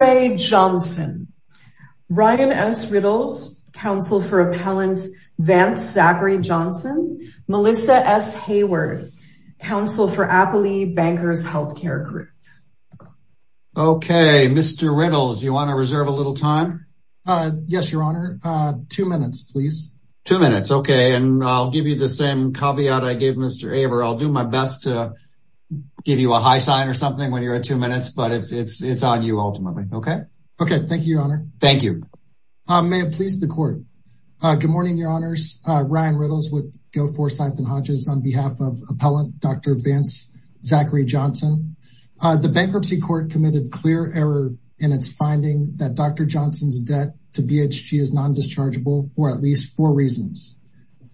Ryan S. Riddles, counsel for appellant Vance Zachary Johnson, Melissa S. Hayward, counsel for Applee Bankers Healthcare Group. Okay, Mr. Riddles, you want to reserve a little time? Yes, your honor. Two minutes, please. Two minutes. Okay. And I'll give you the same caveat I gave Mr. Aver. I'll do my best to give you a high sign or something when you're at two minutes, but it's on you ultimately. Okay? Thank you, your honor. Thank you. May it please the court. Good morning, your honors. Ryan Riddles with Go4Sython Hodges on behalf of appellant Dr. Vance Zachary Johnson. The bankruptcy court committed clear error in its finding that Dr. Johnson's debt to BHG is non-dischargeable for at least four reasons.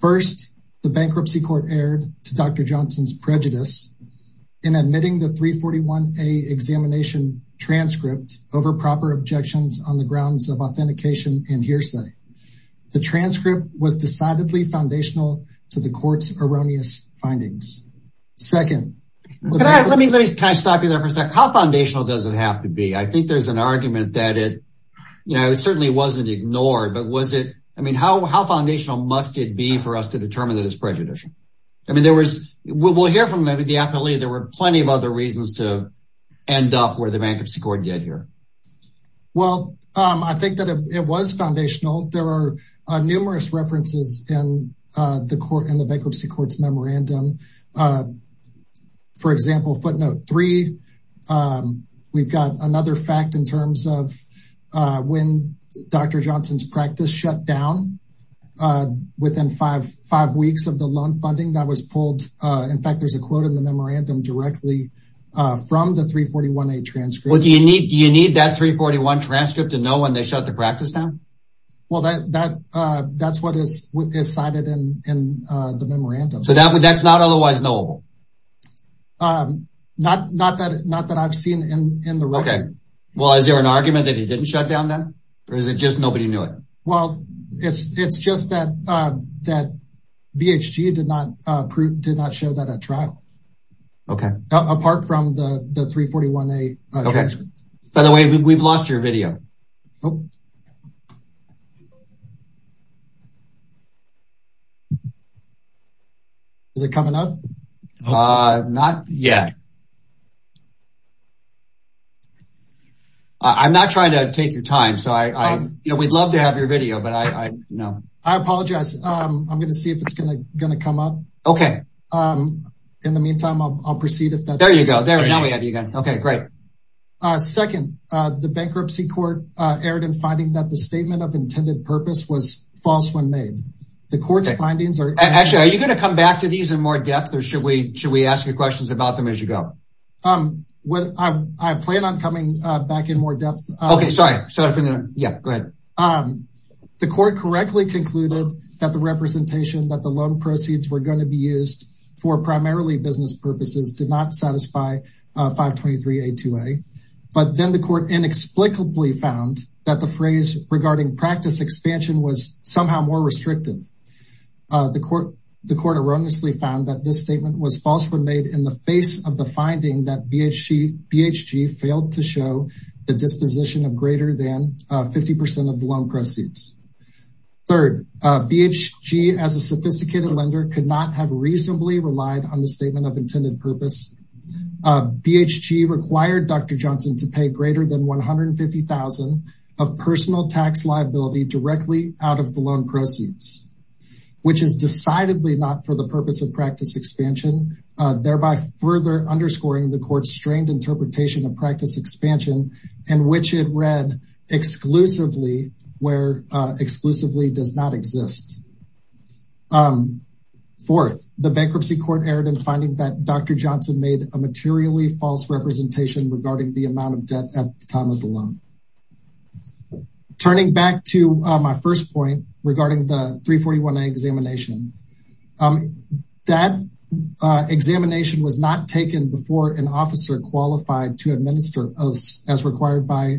First, the bankruptcy court erred to Dr. Johnson's prejudice in admitting the 341A examination transcript over proper objections on the grounds of authentication and hearsay. The transcript was decidedly foundational to the court's erroneous findings. Second, Can I stop you there for a second? How foundational does it have to be? I think there's an argument that it, you know, it certainly wasn't ignored, but was it, I mean, what else could it be for us to determine that it's prejudicial? I mean, there was, we'll hear from maybe the appellee, there were plenty of other reasons to end up where the bankruptcy court did here. Well, I think that it was foundational. There are numerous references in the court, in the bankruptcy court's memorandum. For example, footnote three, we've got another fact in terms of when Dr. Johnson's practice shut down within five weeks of the loan funding that was pulled. In fact, there's a quote in the memorandum directly from the 341A transcript. Well, do you need that 341A transcript to know when they shut the practice down? Well, that's what is cited in the memorandum. So that's not otherwise knowable? Not that I've seen in the record. Okay. Well, is there an argument that he didn't shut down then, or is it just nobody knew Well, it's just that BHG did not prove, did not show that at trial, apart from the 341A transcript. Okay. By the way, we've lost your video. Oh. Is it coming up? Not yet. I'm not trying to take your time, so we'd love to have your video, but I, no. I apologize. I'm going to see if it's going to come up. Okay. In the meantime, I'll proceed if that's... There you go. Now we have you again. Okay, great. Second, the bankruptcy court erred in finding that the statement of intended purpose was false when made. The court's findings are... Actually, are you going to come back to these in more depth, or should we ask you questions about them as you go? I plan on coming back in more depth. Okay, sorry. So I think that... Yeah, go ahead. The court correctly concluded that the representation that the loan proceeds were going to be used for primarily business purposes did not satisfy 523A2A. But then the court inexplicably found that the phrase regarding practice expansion was somehow more restrictive. The court erroneously found that this statement was false when made in the face of the finding that BHG failed to show the disposition of greater than 50% of the loan proceeds. Third, BHG as a sophisticated lender could not have reasonably relied on the statement of intended purpose. BHG required Dr. Johnson to pay greater than $150,000 of personal tax liability directly out of the loan proceeds, which is decidedly not for the purpose of practice expansion, thereby further underscoring the court's strained interpretation of practice expansion in which it read exclusively where exclusively does not exist. Fourth, the bankruptcy court erred in finding that Dr. Johnson made a materially false representation regarding the amount of debt at the time of the loan. Turning back to my first point regarding the 341A examination, that examination was not taken before an officer qualified to administer as required by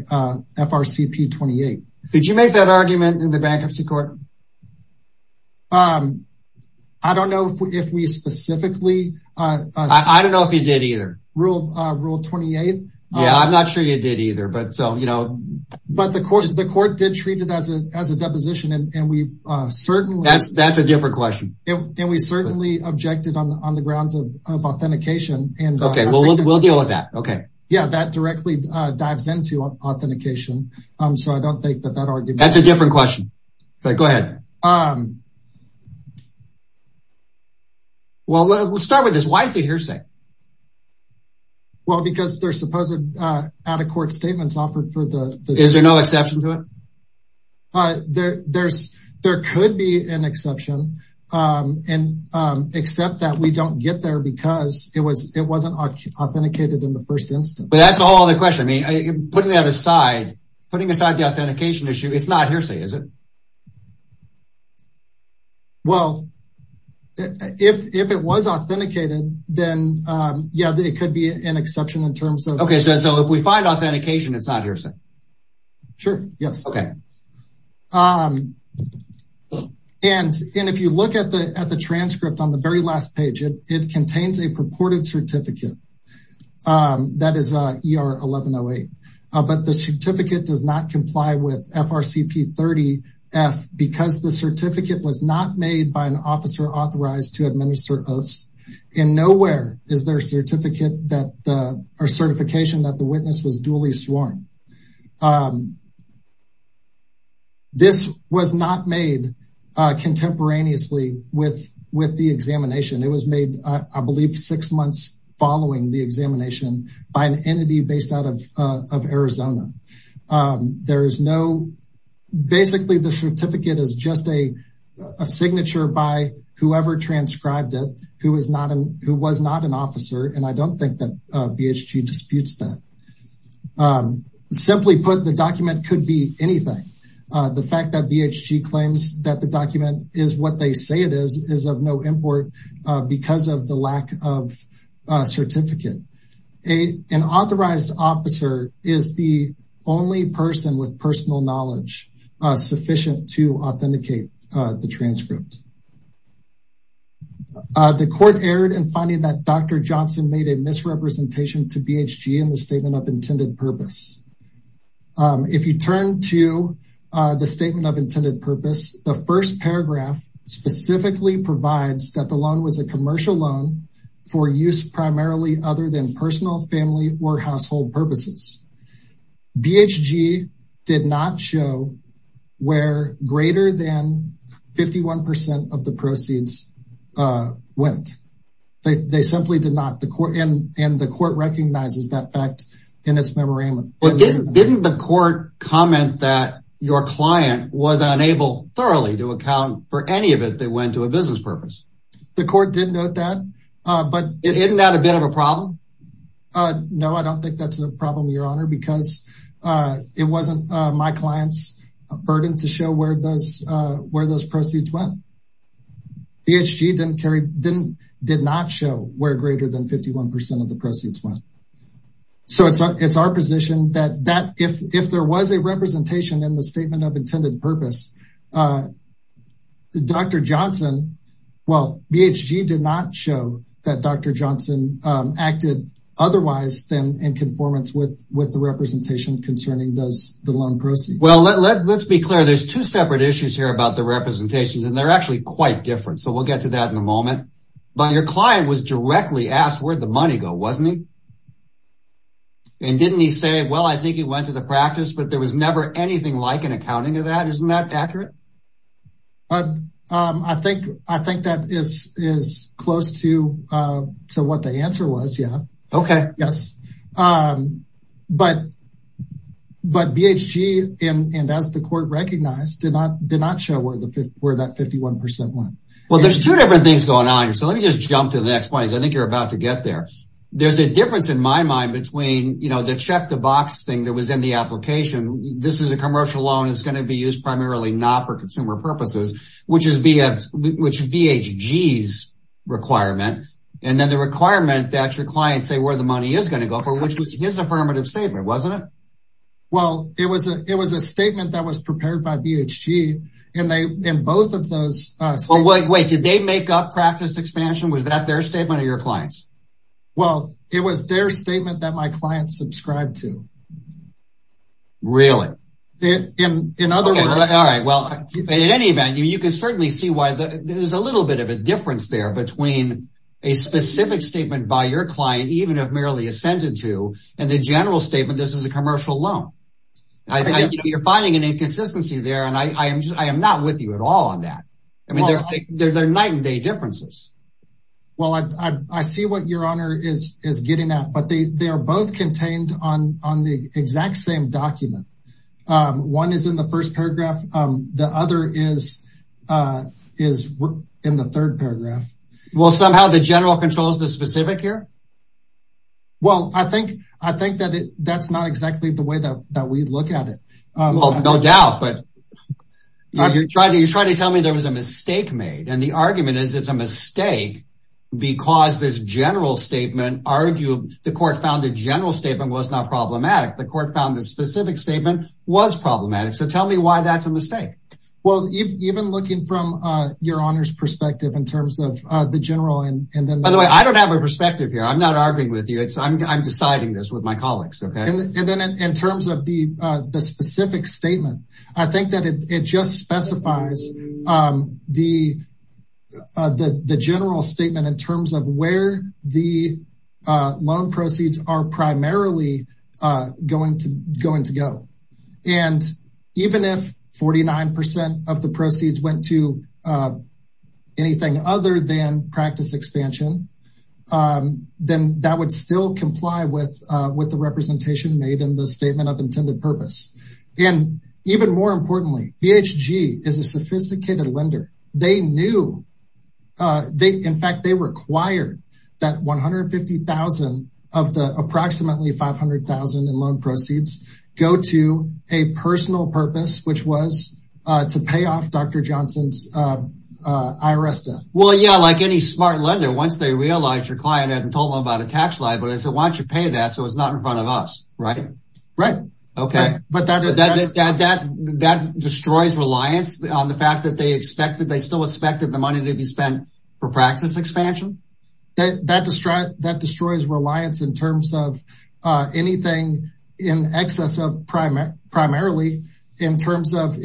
FRCP 28. Did you make that argument in the bankruptcy court? I don't know if we specifically... I don't know if you did either. Rule 28? Yeah, I'm not sure you did either, but so, you know... But the court did treat it as a deposition, and we certainly... That's a different question. And we certainly objected on the grounds of authentication and... Okay, we'll deal with that, okay. Yeah, that directly dives into authentication, so I don't think that that argument... That's a different question, but go ahead. Well, let's start with this. Why is the hearsay? Well, because there's supposed to be out-of-court statements offered for the... Is there no exception to it? There could be an exception, except that we don't get there because it wasn't authenticated in the first instance. But that's a whole other question. I mean, putting that aside, putting aside the authentication issue, it's not hearsay, is it? Well, if it was authenticated, then yeah, it could be an exception in terms of... Okay, so if we find authentication, it's not hearsay? Sure, yes. Okay. And if you look at the transcript on the very last page, it contains a purported certificate. That is ER 1108. But the certificate does not comply with FRCP 30-F because the certificate was not made by an officer authorized to administer oaths. And nowhere is there certification that the witness was duly sworn. This was not made contemporaneously with the examination. It was made, I believe, six months following the examination by an entity based out of Arizona. There is no... Basically, the certificate is just a signature by whoever transcribed it who was not an officer, and I don't think that BHG disputes that. Simply put, the document could be anything. The fact that BHG claims that the document is what they say it is, is of no import because of the lack of certificate. An authorized officer is the only person with personal knowledge sufficient to authenticate the transcript. The court erred in finding that Dr. Johnson made a misrepresentation to BHG in the statement of intended purpose. If you turn to the statement of intended purpose, the first paragraph specifically provides that the loan was a commercial loan for use primarily other than personal, family, or household purposes. BHG did not show where greater than 51% of the proceeds went. They simply did not. The court recognizes that fact in its memorandum. Didn't the court comment that your client was unable thoroughly to account for any of it that went to a business purpose? The court did note that. Isn't that a bit of a problem? No, I don't think that's a problem, Your Honor, because it wasn't my client's burden to show where those proceeds went. BHG did not show where greater than 51% of the proceeds went. It's our position that if there was a representation in the statement of intended purpose, BHG did not show that Dr. Johnson acted otherwise than in conformance with the representation concerning the loan proceeds. Let's be clear. There are two separate issues here about the representations, and they're actually quite different. We'll get to that in a moment. Your client was directly asked where the money went, wasn't he? Didn't he say, I think it went to the practice, but there was never anything like an accounting of that? Isn't that accurate? I think that is close to what the answer was. Yes, but BHG, and as the court recognized, did not show where that 51% went. Well, there's two different things going on here, so let me just jump to the next point because I think you're about to get there. There's a difference in my mind between the check the box thing that was in the application. This is a commercial loan. It's going to be used primarily not for consumer purposes, which is BHG's requirement, and then the requirement that your clients say where the money is going to go for, which was his affirmative statement, wasn't it? Well, it was a statement that was prepared by BHG, and both of those statements... Wait, did they make up practice expansion? Was that their statement or your client's? Well, it was their statement that my client subscribed to. Really? In other words... All right, well, in any event, you can certainly see why there's a little bit of a difference there between a specific statement by your client, even if merely a sentence to, and the general statement, this is a commercial loan. You're finding an inconsistency there, and I am not with you at all on that. I mean, they're night and day differences. Well, I see what your honor is getting at, but they are both contained on the exact same document. One is in the first paragraph. The other is in the third paragraph. Well, somehow the general controls the specific here? Well, I think that that's not exactly the way that we look at it. Well, no doubt, but you're trying to tell me there was a mistake made, and the argument is it's a mistake because this general statement argued, the court found the general statement was not problematic. The court found the specific statement was problematic. So tell me why that's a mistake. Well, even looking from your honor's perspective in terms of the general and then... By the way, I don't have a perspective here. I'm not arguing with you. I'm deciding this with my colleagues. And then in terms of the specific statement, I think that it just specifies the general statement in terms of where the loan proceeds are primarily going to go. And even if 49% of the proceeds went to anything other than practice expansion, then that would still comply with the representation made in the statement of intended purpose. And even more importantly, BHG is a sophisticated lender. They knew, in fact, they required that 150,000 of the approximately 500,000 in loan proceeds go to a personal purpose, which was to pay off Dr. Johnson's IRS debt. Well, yeah, like any smart lender, once they realize your client hasn't told them about a tax liability, they say, why don't you pay that so it's not in front of us, right? Right. But that destroys reliance on the fact that they still expected the money to be spent for practice expansion? That destroys reliance in terms of anything in excess of primarily in terms of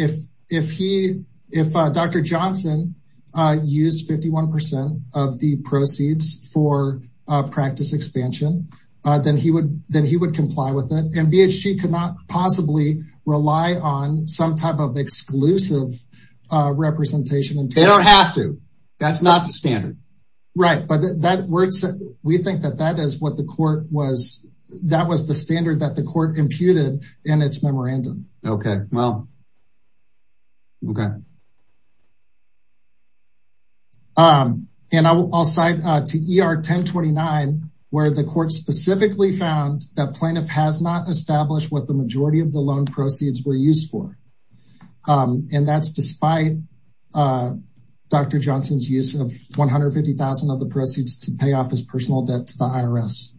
if Dr. Johnson used 51% of the proceeds for practice expansion, then he would comply with it. And BHG could not possibly rely on some type of exclusive representation. They don't have to. That's not the standard. Right. But we think that that was the standard that the court imputed in its memorandum. Okay, well. Okay. And I'll cite to ER 1029, where the court specifically found that plaintiff has not established what the majority of the loan proceeds were used for. And that's despite Dr. Johnson's use of 150,000 of the proceeds to pay off his personal debt to the IRS.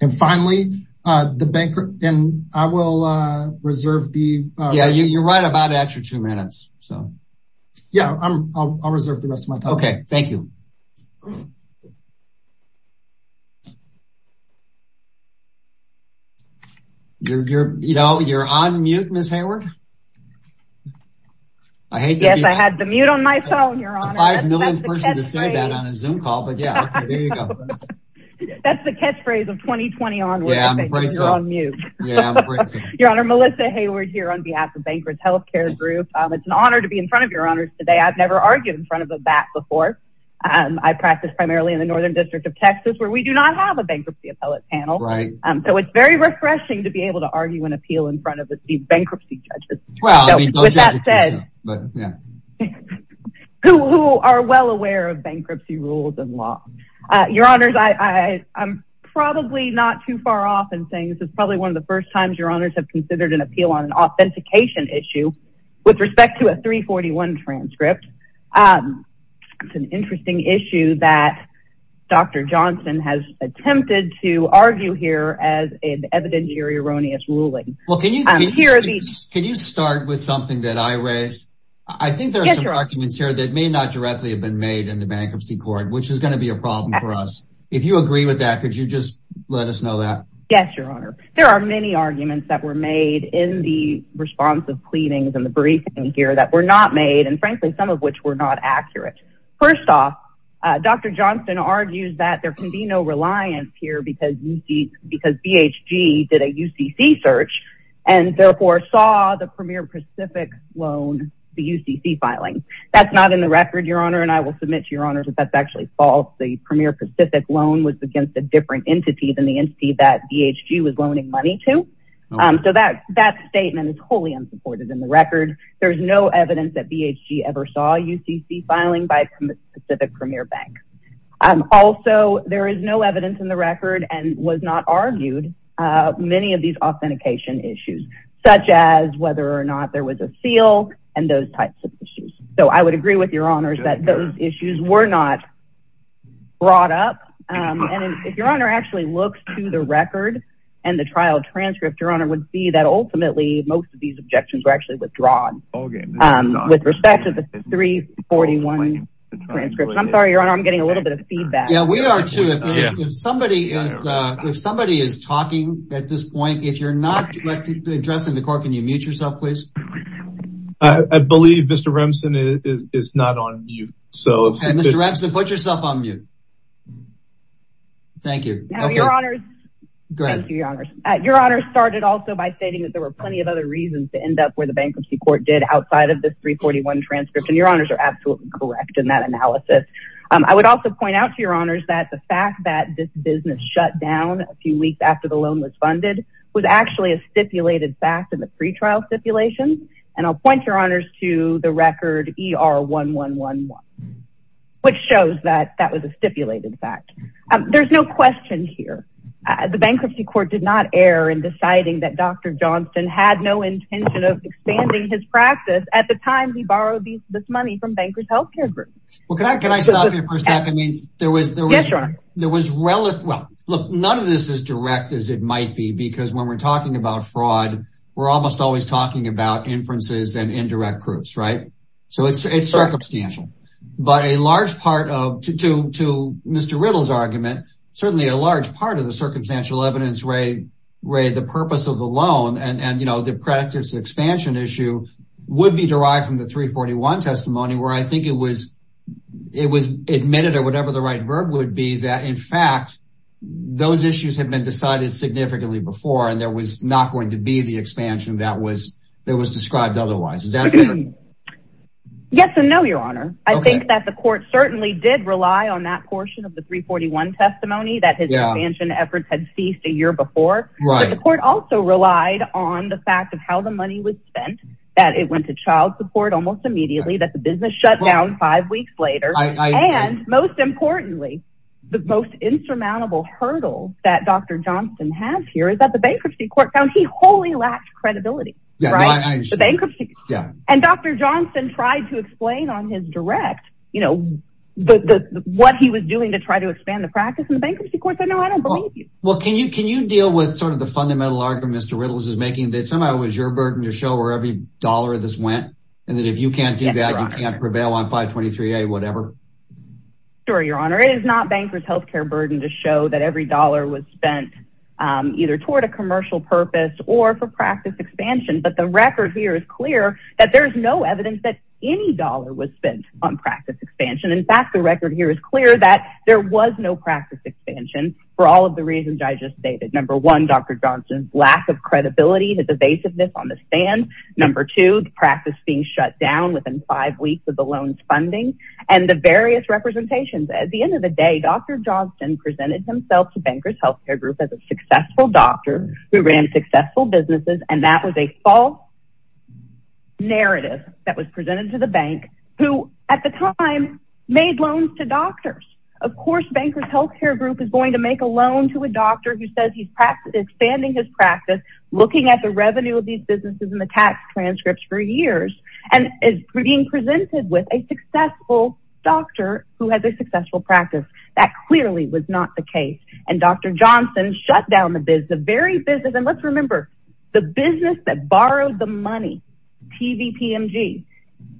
And finally, the banker and I will reserve the. Yeah, you're right about extra two minutes. So, yeah, I'll reserve the rest of my time. Okay, thank you. You know, you're on mute, Ms. Hayward. I hate that. Yes, I had the mute on my phone, Your Honor. I'm not the 5 millionth person to say that on a Zoom call. But, yeah, there you go. That's the catchphrase of 2020 onward. Yeah, I'm afraid so. You're on mute. Yeah, I'm afraid so. Your Honor, Melissa Hayward here on behalf of Bankruptcy Healthcare Group. It's an honor to be in front of Your Honors today. I've never argued in front of a bat before. I practice primarily in the Northern District of Texas, where we do not have a bankruptcy appellate panel. Right. So it's very refreshing to be able to argue and appeal in front of these bankruptcy judges. Well, I mean, those judges do so. But, yeah. Who are well aware of bankruptcy rules and law. Your Honors, I'm probably not too far off in saying this is probably one of the first times Your Honors have considered an appeal on an authentication issue with respect to a 341 transcript. It's an interesting issue that Dr. Johnson has attempted to argue here as an evidentiary erroneous ruling. Well, can you start with something that I raised? I think there are some arguments here that may not directly have been made in the bankruptcy court, which is going to be a problem for us. If you agree with that, could you just let us know that? Yes, Your Honor. There are many arguments that were made in the response of pleadings and the briefing here that were not made, and frankly, some of which were not accurate. First off, Dr. Johnson argues that there can be no reliance here because BHG did a UCC research and therefore saw the Premier Pacific loan, the UCC filing. That's not in the record, Your Honor, and I will submit to Your Honors that that's actually false. The Premier Pacific loan was against a different entity than the entity that BHG was loaning money to. So that statement is wholly unsupported in the record. There is no evidence that BHG ever saw UCC filing by Pacific Premier Bank. Also, there is no evidence in the record and was not argued many of these authentication issues, such as whether or not there was a seal and those types of issues. So I would agree with Your Honors that those issues were not brought up. And if Your Honor actually looks to the record and the trial transcript, Your Honor, would see that ultimately most of these objections were actually withdrawn with respect to the 341 transcript. I'm sorry, Your Honor, I'm getting a little bit of feedback. Yeah, we are too. If somebody is talking at this point, if you're not addressing the court, can you mute yourself, please? I believe Mr. Remsen is not on mute. Okay, Mr. Remsen, put yourself on mute. Thank you. Now, Your Honors. Go ahead. Thank you, Your Honors. Your Honors started also by stating that there were plenty of other reasons to end up where the bankruptcy court did outside of this 341 transcript. And Your Honors are absolutely correct in that analysis. I would also point out to Your Honors that the fact that this business shut down a few weeks after the loan was funded was actually a stipulated fact in the pretrial stipulation. And I'll point Your Honors to the record ER1111, which shows that that was a stipulated fact. There's no question here. The bankruptcy court did not err in deciding that Dr. Johnston had no intention of expanding his practice at the time he borrowed this money from Bankers Healthcare Group. Can I stop you for a second? Yes, Your Honor. None of this is direct as it might be because when we're talking about fraud, we're almost always talking about inferences and indirect proofs, right? So it's circumstantial. But a large part of Mr. Riddle's argument, certainly a large part of the circumstantial evidence, Ray, the purpose of the loan and the practice expansion issue would be derived from the 341 testimony where I think it was admitted or whatever the right verb would be, that in fact, those issues have been decided significantly before and there was not going to be the expansion that was described otherwise. Is that fair? Yes and no, Your Honor. I think that the court certainly did rely on that portion of the 341 testimony that his expansion efforts had ceased a year before. The court also relied on the fact of how the money was spent, that it went to child support almost immediately, that the business shut down five weeks later. And most importantly, the most insurmountable hurdle that Dr. Johnston has here is that the bankruptcy court found he wholly lacked credibility. And Dr. Johnston tried to explain on his direct what he was doing to try to expand the practice and the bankruptcy court said, no, I don't believe you. Well, can you deal with sort of the fundamental argument Mr. Riddle's is making that somehow it was your burden to show where every dollar of this went and that if you can't do that, you can't prevail on 523A, whatever? Sure, Your Honor. It is not bankers' healthcare burden to show that every dollar was spent either toward a commercial purpose or for practice expansion. But the record here is clear that there is no evidence that any dollar was spent on practice expansion. In fact, the record here is clear that there was no practice expansion for all of the reasons I just stated. Number one, Dr. Johnston's lack of credibility, his evasiveness on the stand. Number two, the practice being shut down within five weeks of the loans funding and the various representations. At the end of the day, Dr. Johnston presented himself to Bankers' Healthcare Group as a successful doctor who ran successful businesses and that was a false narrative that was presented to the bank who at the time made loans to doctors. Of course, Bankers' Healthcare Group is going to make a loan to a doctor who says he's expanding his practice, looking at the revenue of these businesses and the tax transcripts for years and is being presented with a successful doctor who has a successful practice. That clearly was not the case and Dr. Johnston shut down the business, the very business and let's remember, the business that borrowed the money, TVPMG,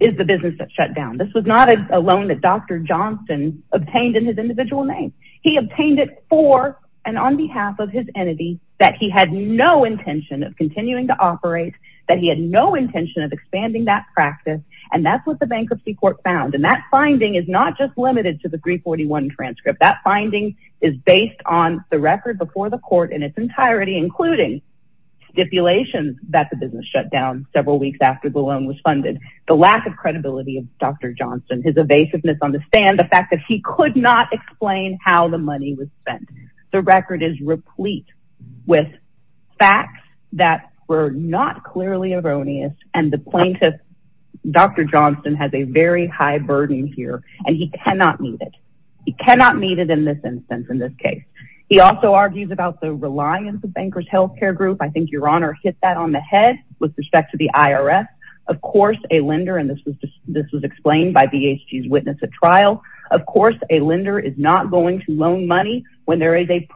is the business that shut down. This was not a loan that Dr. Johnston obtained in his individual name. He obtained it for and on behalf of his entity that he had no intention of continuing to operate, that he had no intention of expanding that practice and that's what the Bankruptcy Court found. And that finding is not just limited to the 341 transcript. That finding is based on the record before the court in its entirety, including stipulations that the business shut down several weeks after the loan was funded. The lack of credibility of Dr. Johnston, his evasiveness on the stand, the fact that he could not explain how the money was spent. The record is replete with facts that were not clearly erroneous and the plaintiff, Dr. Johnston, has a very high burden here and he cannot meet it. He cannot meet it in this instance, in this case. He also argues about the reliance of Bankers Healthcare Group. I think your honor hit that on the head with respect to the IRS. Of course, a lender and this was explained by BHG's witness at trial. Of course, a lender is not going to loan money when there is a,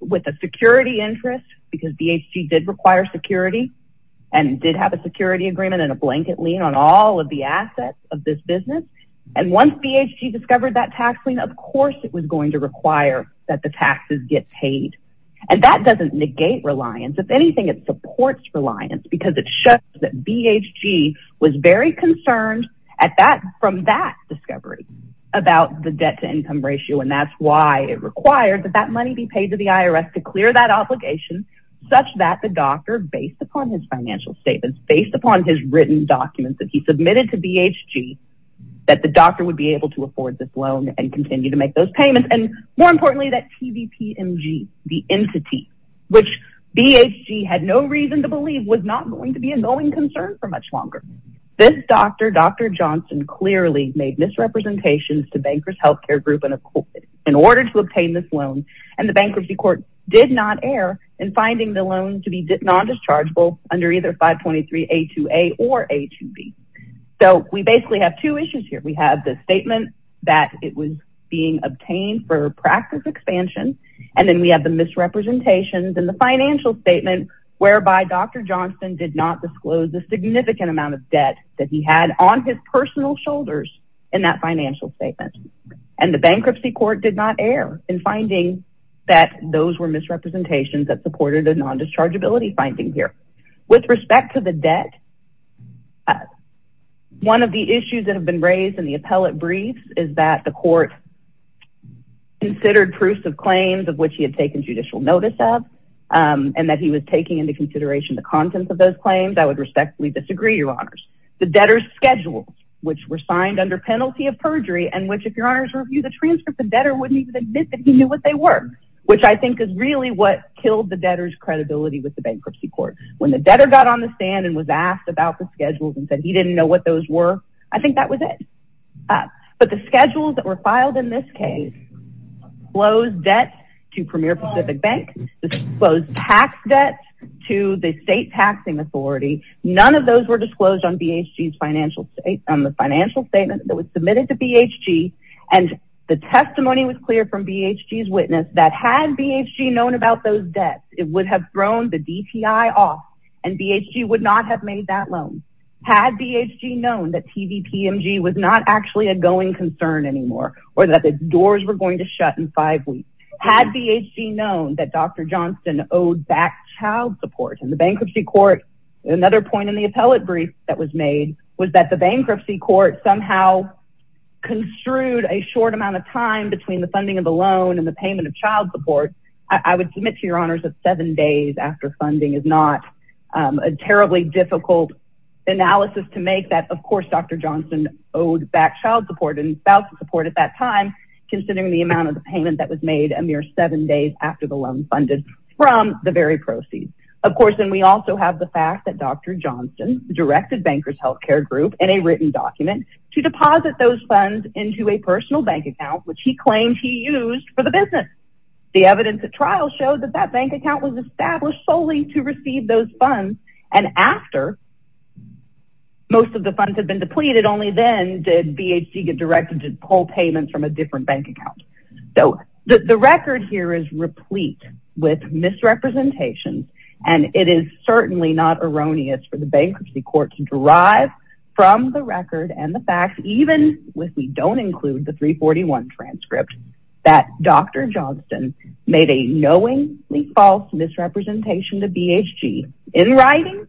with a security interest because BHG did require security and did have a security agreement and a blanket lien on all of the assets of this business. And once BHG discovered that tax lien, of course, it was going to require that the taxes get paid. And that doesn't negate reliance. If anything, it supports reliance because it shows that BHG was very concerned at that from that discovery about the debt to income ratio. And that's why it required that that money be paid to the IRS to clear that obligation such that the doctor based upon his financial statements, based upon his written documents that he submitted to BHG, that the doctor would be able to afford this loan and continue to make those payments. And more importantly, that TVPMG, the entity, which BHG had no reason to believe was not going to be a knowing concern for much longer. This doctor, Dr. Johnson clearly made misrepresentations to Bankers Healthcare Group in order to obtain this loan. And the bankruptcy court did not err in finding the loan to be non-dischargeable under either 523 A2A or A2B. So we basically have two issues here. We have the statement that it was being obtained for practice expansion. And then we have the misrepresentations in the financial statement whereby Dr. Johnson did not disclose the significant amount of debt that he had on his personal shoulders in that financial statement. And the bankruptcy court did not err in finding that those were misrepresentations that supported a non-dischargeability finding here. With respect to the debt, one of the issues that have been raised in the appellate brief is that the court considered proofs of claims of which he had taken judicial notice of and that he was taking into consideration the contents of those claims. I would respectfully disagree, Your Honors. The debtors' schedules, which were signed under penalty of perjury and which if Your Honors reviewed the transcript, the debtor wouldn't even admit that he knew what they were, which I think is really what killed the debtor's credibility with the bankruptcy court. When the debtor got on the stand and was asked about the schedules and said he didn't know what those were, I think that was it. But the schedules that were filed in this case disclosed debt to Premier Pacific Bank, disclosed tax debt to the state taxing authority. None of those were disclosed on the financial statement that was submitted to BHG. And the testimony was clear from BHG's witness that had BHG known about those debts, it would have thrown the DTI off and BHG would not have made that loan. Had BHG known that TVPMG was not actually a going concern anymore or that the doors were going to shut in five weeks. Had BHG known that Dr. Johnston owed back child support and the bankruptcy court, another point in the appellate brief that was made was that the bankruptcy court somehow construed a short amount of time between the funding of the loan and the payment of child support. I would submit to your honors that seven days after funding is not a terribly difficult analysis to make that, of course, Dr. Johnston owed back child support and spouse support at that time, considering the amount of the payment that was made a mere seven days after the loan funded from the very proceeds. Of course, and we also have the fact that Dr. Johnston directed Bankers Healthcare Group in a written document to deposit those funds into a personal bank account, which he claimed he used for the business. The evidence at trial showed that that bank account was established solely to receive those funds. And after most of the funds had been depleted, only then did BHG get directed to pull payments from a different bank account. So the record here is replete with misrepresentations. And it is certainly not erroneous for the bankruptcy court to derive from the record even if we don't include the 341 transcript that Dr. Johnston made a knowingly false misrepresentation to BHG in writing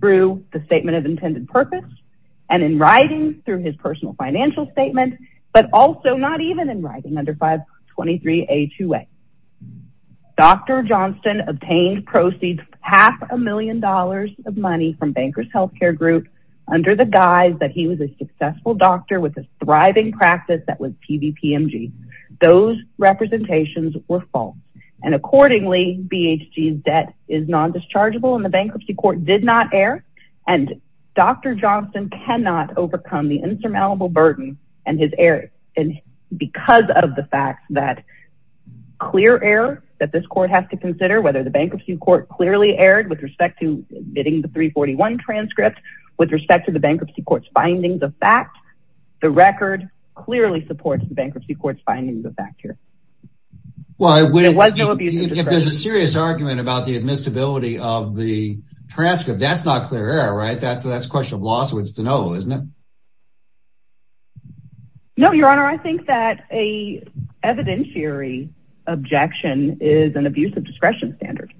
through the statement of intended purpose and in writing through his personal financial statement, but also not even in writing under 523A2A. Dr. Johnston obtained proceeds half a million dollars of money from Bankers Healthcare Group under the guise that he was a successful doctor with a thriving practice that was PVPMG. Those representations were false. And accordingly, BHG's debt is non-dischargeable and the bankruptcy court did not err. And Dr. Johnston cannot overcome the insurmountable burden and his error because of the fact that clear error that this court has to consider whether the bankruptcy court clearly erred with respect to omitting the 341 transcript, with respect to the bankruptcy court's findings of fact. The record clearly supports the bankruptcy court's findings of fact here. Well, if there's a serious argument about the admissibility of the transcript, that's not clear error, right? That's a question of lawsuits to know, isn't it? No, Your Honor, I think that a evidentiary objection is an abuse of discretion standard.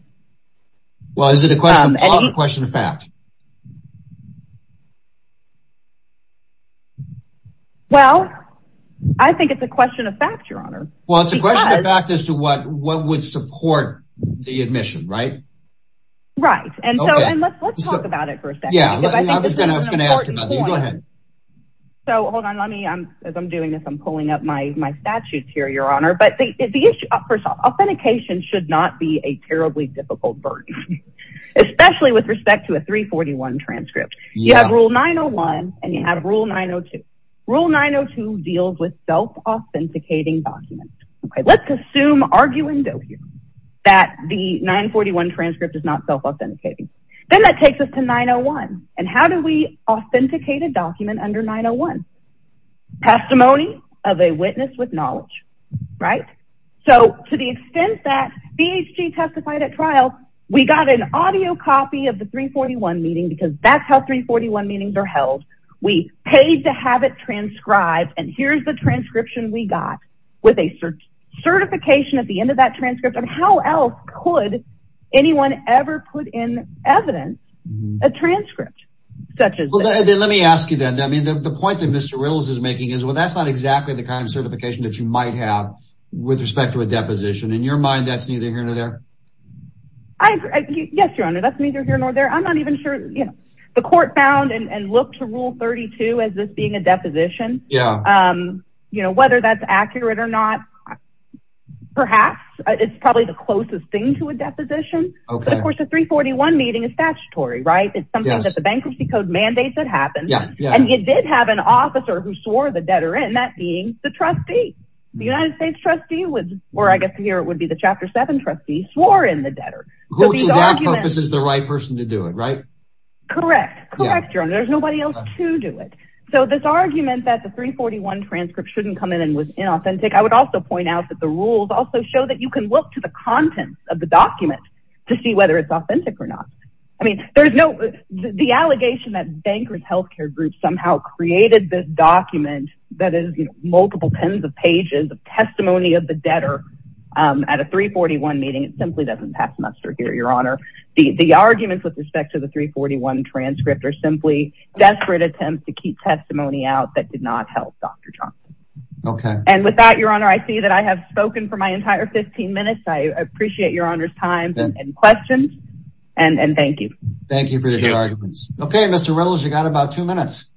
Well, is it a question of fact? Well, I think it's a question of fact, Your Honor. Well, it's a question of fact as to what would support the admission, right? Right. And so let's talk about it for a second. Yeah, I was going to ask about that. Go ahead. So hold on. As I'm doing this, I'm pulling up my statutes here, Your Honor. Authentication should not be a terribly difficult burden, especially with respect to a 341 transcript. You have Rule 901 and you have Rule 902. Rule 902 deals with self-authenticating documents. Let's assume, argue and go here, that the 941 transcript is not self-authenticating. Then that takes us to 901. And how do we authenticate a document under 901? Testimony of a witness with knowledge, right? So to the extent that BHG testified at trial, we got an audio copy of the 341 meeting because that's how 341 meetings are held. We paid to have it transcribed. And here's the transcription we got with a certification at the end of that transcript. And how else could anyone ever put in evidence a transcript such as that? Let me ask you then. I mean, the point that Mr. Riddles is making is, well, that's not exactly the kind of certification that you might have with respect to a deposition. In your mind, that's neither here nor there? Yes, Your Honor. That's neither here nor there. I'm not even sure. The court found and looked to Rule 32 as this being a deposition. Whether that's accurate or not, perhaps it's probably the closest thing to a deposition. Of course, the 341 meeting is statutory, right? It's something that the Bankruptcy Code mandates that happen. And it did have an officer who swore the debtor in, that being the trustee. The United States trustee, or I guess here it would be the Chapter 7 trustee, swore in the debtor. Who to their purpose is the right person to do it, right? Correct. Correct, Your Honor. There's nobody else to do it. So this argument that the 341 transcript shouldn't come in and was inauthentic, I would also point out that the rules also show that you can look to the contents of the document to see whether it's authentic or not. The allegation that Bankrupt Healthcare Group somehow created this document that is multiple tens of pages of testimony of the debtor at a 341 meeting simply doesn't pass muster here, Your Honor. The arguments with respect to the 341 transcript are simply desperate attempts to keep testimony out that did not help Dr. Johnson. And with that, Your Honor, I see that I have spoken for my entire 15 minutes. I appreciate Your Honor's time and questions, and thank you. Thank you for the good arguments. Okay, Mr. Ramos, you've got about two minutes.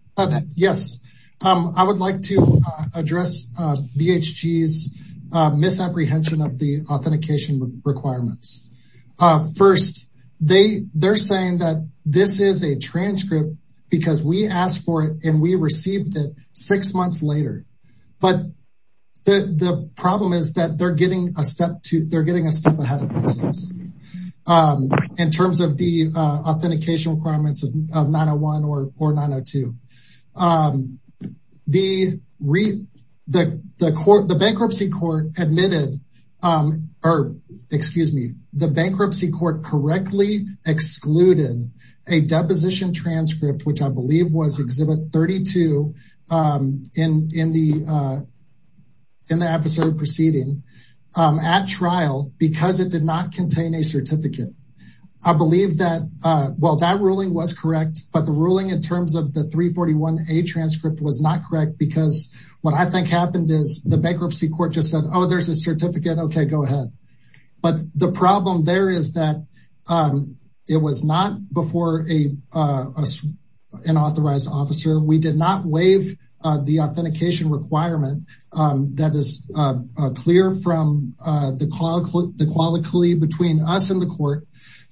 Yes, I would like to address BHG's misapprehension of the authentication requirements. First, they're saying that this is a transcript because we asked for it and we received it six months later. But the problem is that they're getting a step ahead of themselves in terms of the authentication requirements of 901 or 902. The bankruptcy court admitted, or excuse me, the bankruptcy court correctly excluded a deposition transcript, which I believe was Exhibit 32 in the adversary proceeding at trial because it did not contain a certificate. I believe that, well, that ruling was correct, but the ruling in terms of the 341A transcript was not correct because what I think happened is the bankruptcy court just said, oh, there's a certificate. Okay, go ahead. But the problem there is that it was not before an authorized officer. We did not waive the authentication requirement that is clear from the quality between us and the court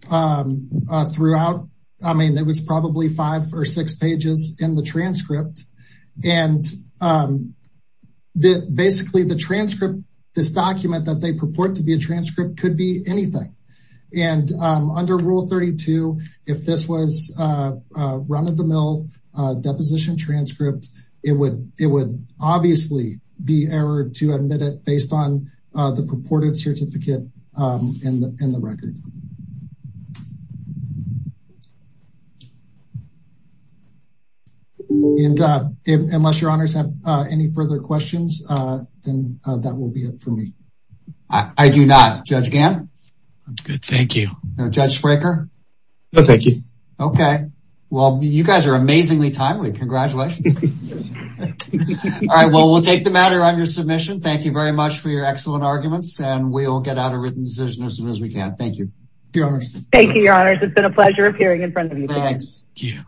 throughout. I mean, it was probably five or six pages in the transcript. And basically, the transcript, this document that they purport to be a transcript could be anything. And under Rule 32, if this was run-of-the-mill deposition transcript, it would obviously be errored to admit it based on the purported certificate in the record. Unless your honors have any further questions, then that will be it for me. I do not. Judge Gann? Good, thank you. Judge Spraker? No, thank you. Okay, well, you guys are amazingly timely. Congratulations. All right, well, we'll take the matter under submission. Thank you very much for your excellent arguments, and we'll get out a written decision as soon as we can. Thank you. Thank you, your honors. It's been a pleasure appearing in front of you today. Thank you.